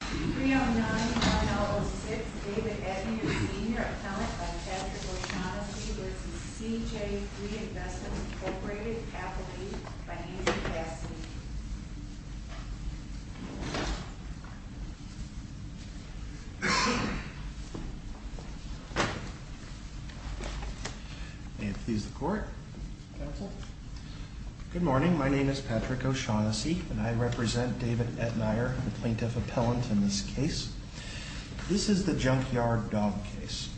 309-1006, David Etnier, Sr. Appellant by Patrick O'Shaughnessy v. CJ Three Investments, Inc. by Nancy Cassidy. May it please the court. Counsel. Good morning. My name is Patrick O'Shaughnessy and I represent David Etnier, the plaintiff appellant in this case. This is the junkyard dog case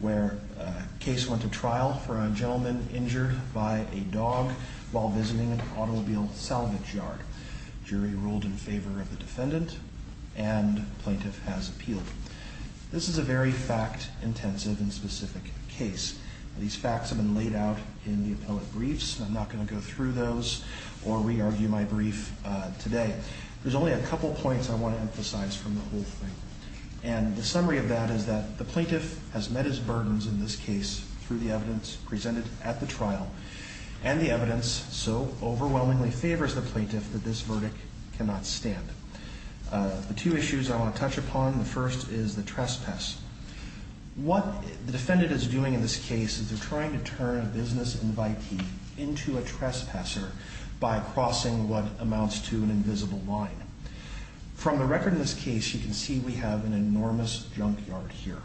where a case went to trial for a gentleman injured by a dog while visiting an automobile salvage yard. The jury ruled in favor of the defendant and the plaintiff has appealed. This is a very fact-intensive and specific case. These facts have been laid out in the appellate briefs. I'm not going to go through those or re-argue my brief today. There's only a couple points I want to emphasize from the whole thing. And the summary of that is that the plaintiff has met his burdens in this case through the evidence presented at the trial and the evidence so overwhelmingly favors the plaintiff that this verdict cannot stand. The two issues I want to touch upon, the first is the trespass. What the defendant is doing in this case is they're trying to turn a business invitee into a trespasser by crossing what amounts to an invisible line. From the record in this case, you can see we have an enormous junkyard here.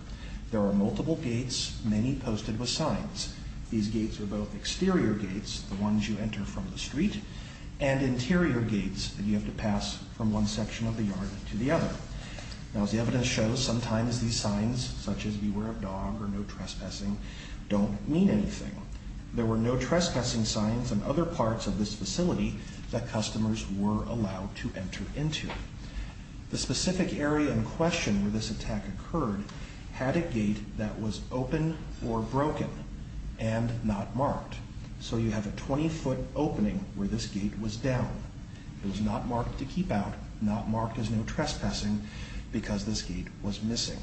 There are multiple gates, many posted with signs. These gates are both exterior gates, the ones you enter from the street, and interior gates that you have to pass from one section of the yard to the other. As the evidence shows, sometimes these signs, such as beware of dog or no trespassing, don't mean anything. There were no trespassing signs on other parts of this facility that customers were allowed to enter into. The specific area in question where this attack occurred had a gate that was open or broken and not marked. So you have a 20-foot opening where this gate was down. It was not marked to keep out, not marked as no trespassing, because this gate was missing.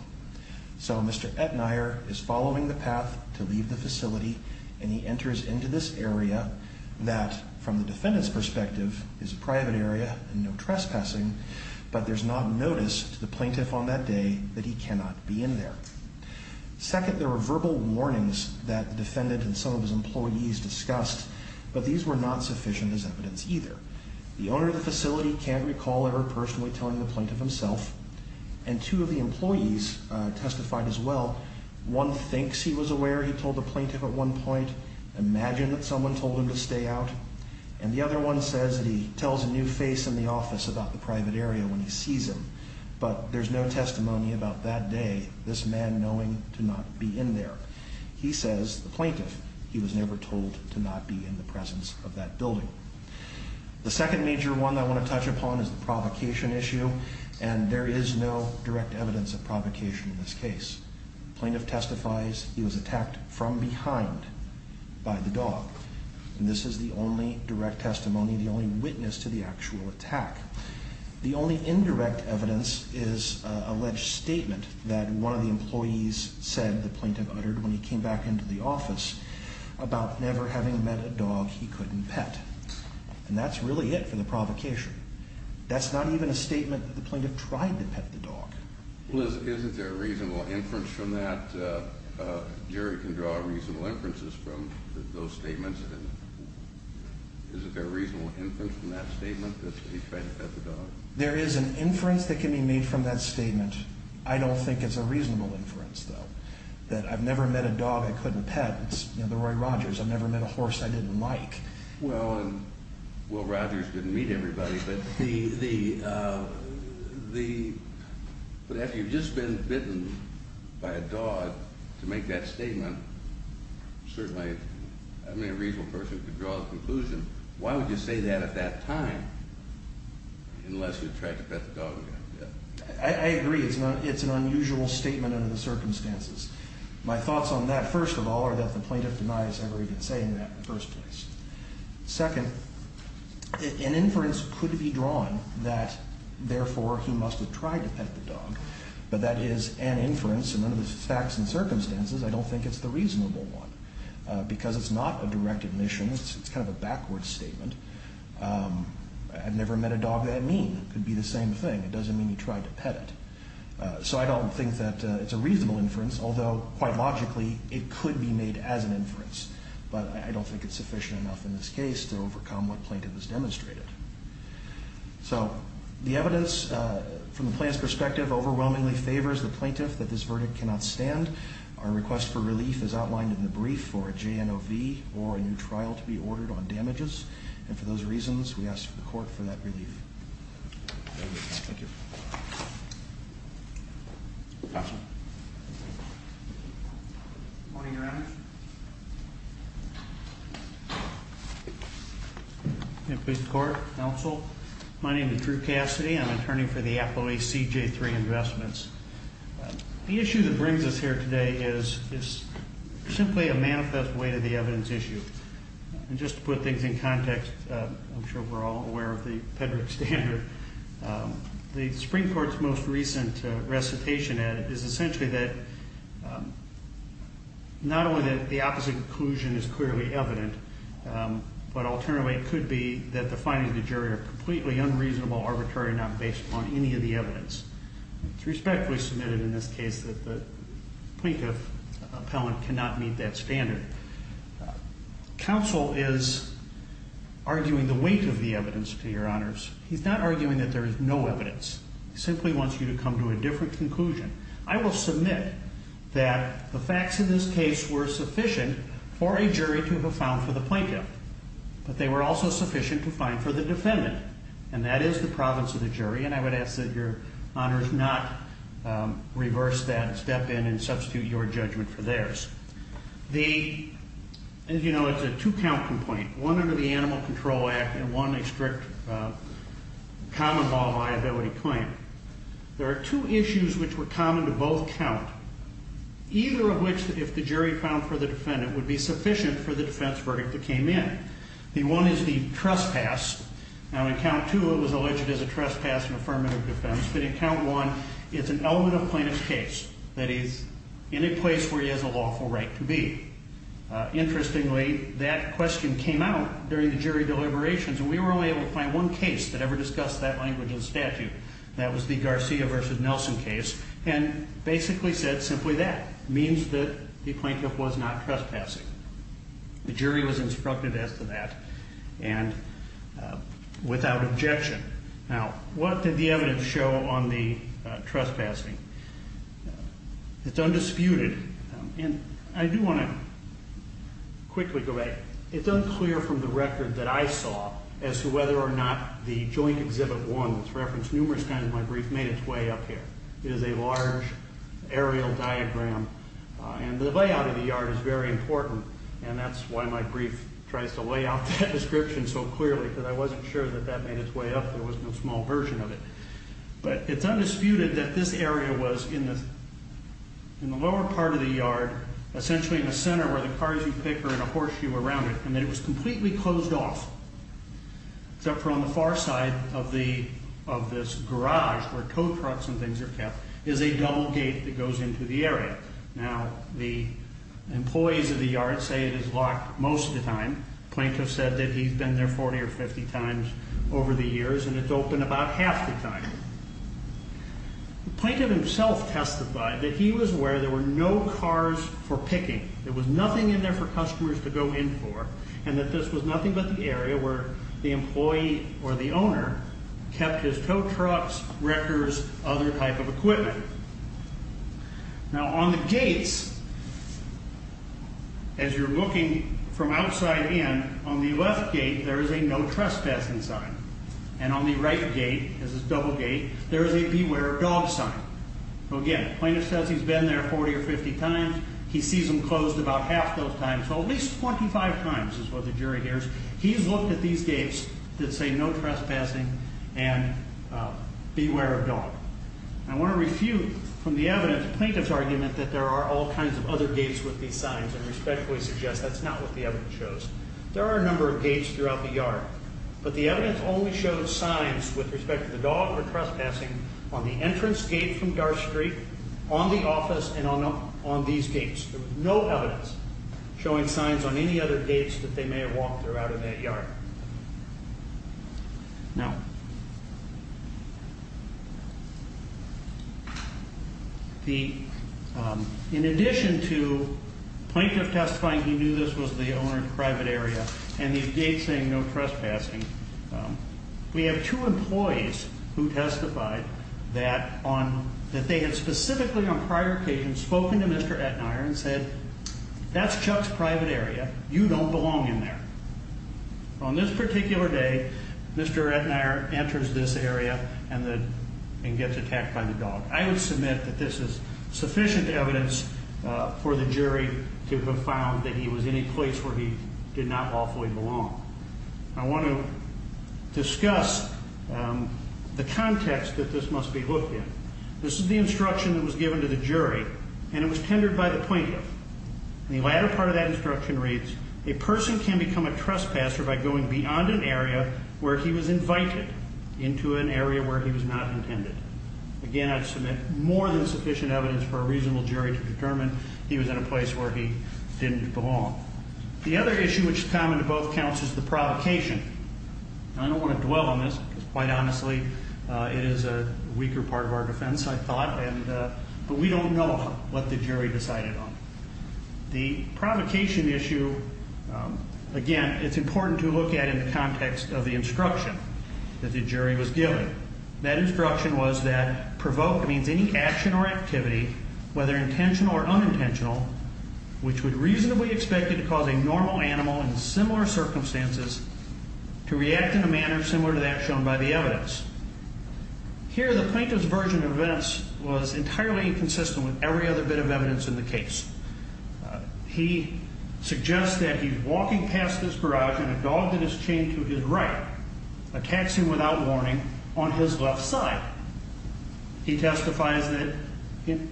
So Mr. Ettenaier is following the path to leave the facility, and he enters into this area that, from the defendant's perspective, is a private area and no trespassing, but there's not notice to the plaintiff on that day that he cannot be in there. Second, there were verbal warnings that the defendant and some of his employees discussed, but these were not sufficient as evidence either. The owner of the facility can't recall ever personally telling the plaintiff himself, and two of the employees testified as well. One thinks he was aware he told the plaintiff at one point, imagined that someone told him to stay out, and the other one says that he tells a new face in the office about the private area when he sees him, but there's no testimony about that day, this man knowing to not be in there. He says, the plaintiff, he was never told to not be in the presence of that building. The second major one I want to touch upon is the provocation issue, and there is no direct evidence of provocation in this case. The plaintiff testifies he was attacked from behind by the dog, and this is the only direct testimony, the only witness to the actual attack. The only indirect evidence is an alleged statement that one of the employees said, the plaintiff uttered when he came back into the office, about never having met a dog he couldn't pet, and that's really it for the provocation. That's not even a statement that the plaintiff tried to pet the dog. Well, isn't there a reasonable inference from that? Jerry can draw reasonable inferences from those statements. Isn't there a reasonable inference from that statement that he tried to pet the dog? I don't think it's a reasonable inference, though, that I've never met a dog I couldn't pet. It's the Roy Rogers, I've never met a horse I didn't like. Well, and Will Rogers didn't meet everybody, but after you've just been bitten by a dog, to make that statement, certainly, I mean, a reasonable person could draw a conclusion. Why would you say that at that time, unless you tried to pet the dog again? I agree, it's an unusual statement under the circumstances. My thoughts on that, first of all, are that the plaintiff denies ever even saying that in the first place. Second, an inference could be drawn that, therefore, he must have tried to pet the dog, but that is an inference, and under the facts and circumstances, I don't think it's the reasonable one, because it's not a direct admission, it's kind of a backwards statement. I've never met a dog that mean. It could be the same thing. It doesn't mean he tried to pet it. So I don't think that it's a reasonable inference, although, quite logically, it could be made as an inference, but I don't think it's sufficient enough in this case to overcome what plaintiff has demonstrated. So the evidence, from the plaintiff's perspective, overwhelmingly favors the plaintiff that this verdict cannot stand. Our request for relief is outlined in the brief for a JNOV or a new trial to be ordered on damages, and for those reasons, we ask the court for that relief. Thank you. Good morning, Your Honor. Can I please report, counsel? My name is Drew Cassidy. I'm an attorney for the Appleby CJ3 Investments. The issue that brings us here today is simply a manifest way to the evidence issue. And just to put things in context, I'm sure we're all aware of the Pedrick standard. The Supreme Court's most recent recitation is essentially that not only that the opposite conclusion is clearly evident, but alternatively it could be that the findings of the jury are completely unreasonable, arbitrary, not based on any of the evidence. It's respectfully submitted in this case that the plaintiff appellant cannot meet that standard. Counsel is arguing the weight of the evidence, to your honors. He's not arguing that there is no evidence. He simply wants you to come to a different conclusion. I will submit that the facts in this case were sufficient for a jury to have found for the plaintiff, but they were also sufficient to find for the defendant, and that is the province of the jury, and I would ask that your honors not reverse that step in and substitute your judgment for theirs. The, as you know, it's a two count complaint. One under the Animal Control Act and one a strict common law liability claim. There are two issues which were common to both count, either of which, if the jury found for the defendant, would be sufficient for the defense verdict that came in. The one is the trespass. Now, in count two, it was alleged as a trespass in affirmative defense, but in count one, it's an element of plaintiff's case that he's in a place where he has a lawful right to be. Interestingly, that question came out during the jury deliberations, and we were only able to find one case that ever discussed that language in statute. That was the Garcia versus Nelson case, and basically said simply that, means that the plaintiff was not trespassing. The jury was instructed as to that, and without objection. Now, what did the evidence show on the trespassing? It's undisputed, and I do want to quickly go back. It's unclear from the record that I saw as to whether or not the joint exhibit one, that's referenced numerous times in my brief, made its way up here. It is a large aerial diagram, and the layout of the yard is very important, and that's why my brief tries to lay out that description so clearly, because I wasn't sure that that made its way up. There was no small version of it. But it's undisputed that this area was in the lower part of the yard, essentially in the center where the cars you pick are and a horseshoe around it, and that it was completely closed off, except for on the far side of this garage where tow trucks and things are kept is a double gate that goes into the area. Now, the employees of the yard say it is locked most of the time. The plaintiff said that he's been there 40 or 50 times over the years, and it's open about half the time. The plaintiff himself testified that he was aware there were no cars for picking. There was nothing in there for customers to go in for, and that this was nothing but the area where the employee or the owner kept his tow trucks, wreckers, other type of equipment. Now, on the gates, as you're looking from outside in, on the left gate there is a no trespassing sign, and on the right gate, this is a double gate, there is a beware of dogs sign. Again, the plaintiff says he's been there 40 or 50 times. He sees them closed about half those times, so at least 25 times is what the jury hears. He's looked at these gates that say no trespassing and beware of dog. I want to refute from the evidence the plaintiff's argument that there are all kinds of other gates with these signs, and respectfully suggest that's not what the evidence shows. There are a number of gates throughout the yard, but the evidence only shows signs with respect to the dog or trespassing on the entrance gate from Garth Street, on the office, and on these gates. There was no evidence showing signs on any other gates that they may have walked throughout in that yard. Now, in addition to plaintiff testifying he knew this was the owner's private area and these gates saying no trespassing, we have two employees who testified that they had specifically on prior occasions spoken to Mr. Aetnier and said that's Chuck's private area. You don't belong in there. On this particular day, Mr. Aetnier enters this area and gets attacked by the dog. I would submit that this is sufficient evidence for the jury to have found that he was in a place where he did not lawfully belong. I want to discuss the context that this must be looked at. This is the instruction that was given to the jury, and it was tendered by the plaintiff. The latter part of that instruction reads, a person can become a trespasser by going beyond an area where he was invited into an area where he was not intended. Again, I'd submit more than sufficient evidence for a reasonable jury to determine he was in a place where he didn't belong. The other issue which is common to both counts is the provocation. I don't want to dwell on this because, quite honestly, it is a weaker part of our defense, I thought, but we don't know what the jury decided on. The provocation issue, again, it's important to look at in the context of the instruction that the jury was given. That instruction was that provoke means any action or activity, whether intentional or unintentional, which would reasonably expect it to cause a normal animal in similar circumstances to react in a manner similar to that shown by the evidence. Here the plaintiff's version of this was entirely inconsistent with every other bit of evidence in the case. He suggests that he's walking past this garage and a dog that is chained to his right attacks him without warning on his left side. He testifies that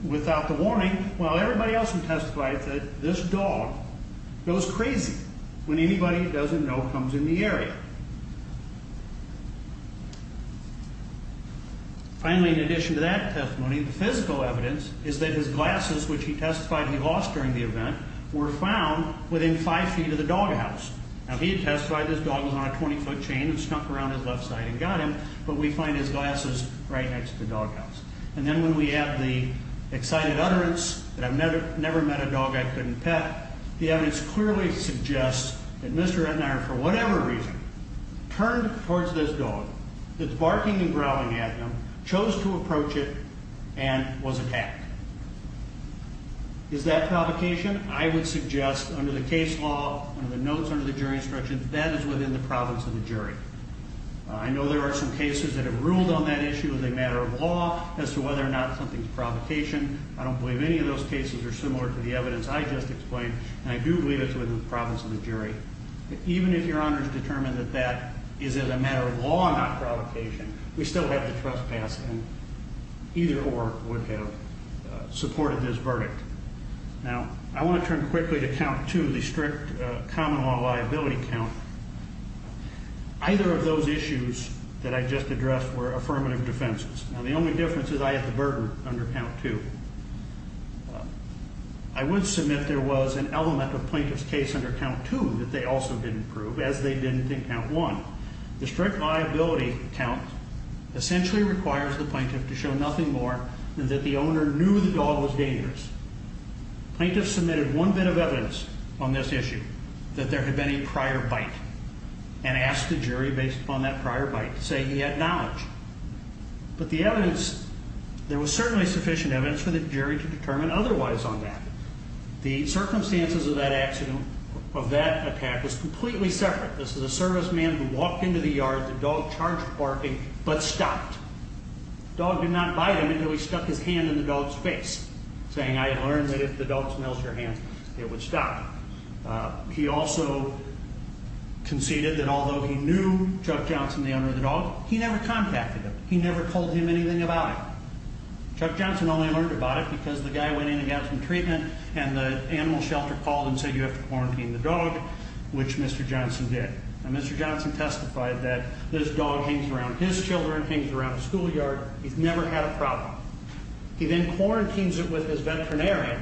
without the warning, while everybody else had testified that this dog goes crazy when anybody he doesn't know comes in the area. Finally, in addition to that testimony, the physical evidence is that his glasses, which he testified he lost during the event, were found within five feet of the doghouse. Now, he had testified this dog was on a 20-foot chain and snuck around his left side and got him, but we find his glasses right next to the doghouse. And then when we add the excited utterance, that I've never met a dog I couldn't pet, the evidence clearly suggests that Mr. Ednard, for whatever reason, turned towards this dog that's barking and growling at him, chose to approach it, and was attacked. Is that provocation? I would suggest under the case law, under the notes, under the jury instructions, that is within the province of the jury. I know there are some cases that have ruled on that issue as a matter of law, as to whether or not something's provocation. I don't believe any of those cases are similar to the evidence I just explained, and I do believe it's within the province of the jury. But even if Your Honor's determined that that is, as a matter of law, not provocation, we still have the trespass, and either or would have supported this verdict. Now, I want to turn quickly to count two, the strict common law liability count. Either of those issues that I just addressed were affirmative defenses. Now, the only difference is I have the burden under count two. I would submit there was an element of plaintiff's case under count two that they also didn't prove, as they didn't in count one. The strict liability count essentially requires the plaintiff to show nothing more than that the owner knew the dog was dangerous. Plaintiffs submitted one bit of evidence on this issue that there had been a prior bite and asked the jury, based upon that prior bite, to say he had knowledge. But the evidence, there was certainly sufficient evidence for the jury to determine otherwise on that. The circumstances of that attack was completely separate. This is a serviceman who walked into the yard. The dog charged, barking, but stopped. The dog did not bite him until he stuck his hand in the dog's face, saying I had learned that if the dog smells your hand, it would stop. He also conceded that although he knew Chuck Johnson, the owner of the dog, he never contacted him. He never told him anything about it. Chuck Johnson only learned about it because the guy went in and got some treatment, and the animal shelter called and said you have to quarantine the dog, which Mr. Johnson did. Now, Mr. Johnson testified that this dog hangs around his children, hangs around the schoolyard. He's never had a problem. He then quarantines it with his veterinarian,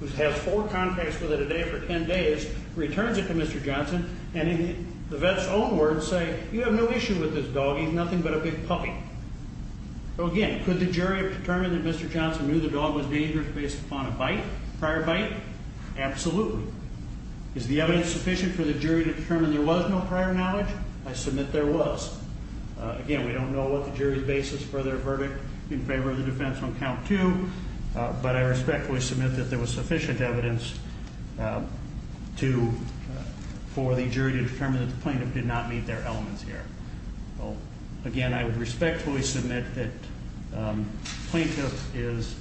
who has had four contacts with it a day for 10 days, returns it to Mr. Johnson, and the vet's own words say you have no issue with this dog. He's nothing but a big puppy. So, again, could the jury have determined that Mr. Johnson knew the dog was dangerous based upon a bite, prior bite? Absolutely. Is the evidence sufficient for the jury to determine there was no prior knowledge? I submit there was. Again, we don't know what the jury's basis for their verdict in favor of the defense on count two, but I respectfully submit that there was sufficient evidence for the jury to determine that the plaintiff did not meet their elements here. Again, I would respectfully submit that plaintiff is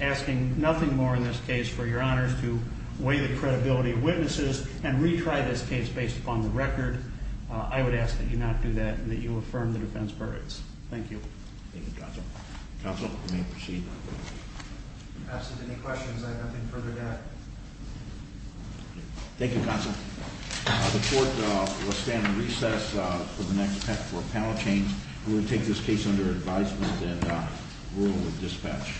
asking nothing more in this case for your honors to weigh the credibility of witnesses and retry this case based upon the record. I would ask that you not do that and that you affirm the defense verdicts. Thank you. Thank you, Counsel. Counsel, you may proceed. If you have any questions, I have nothing further to add. Thank you, Counsel. The court will stand in recess for the next panel change. We will take this case under advisement and rule of dispatch.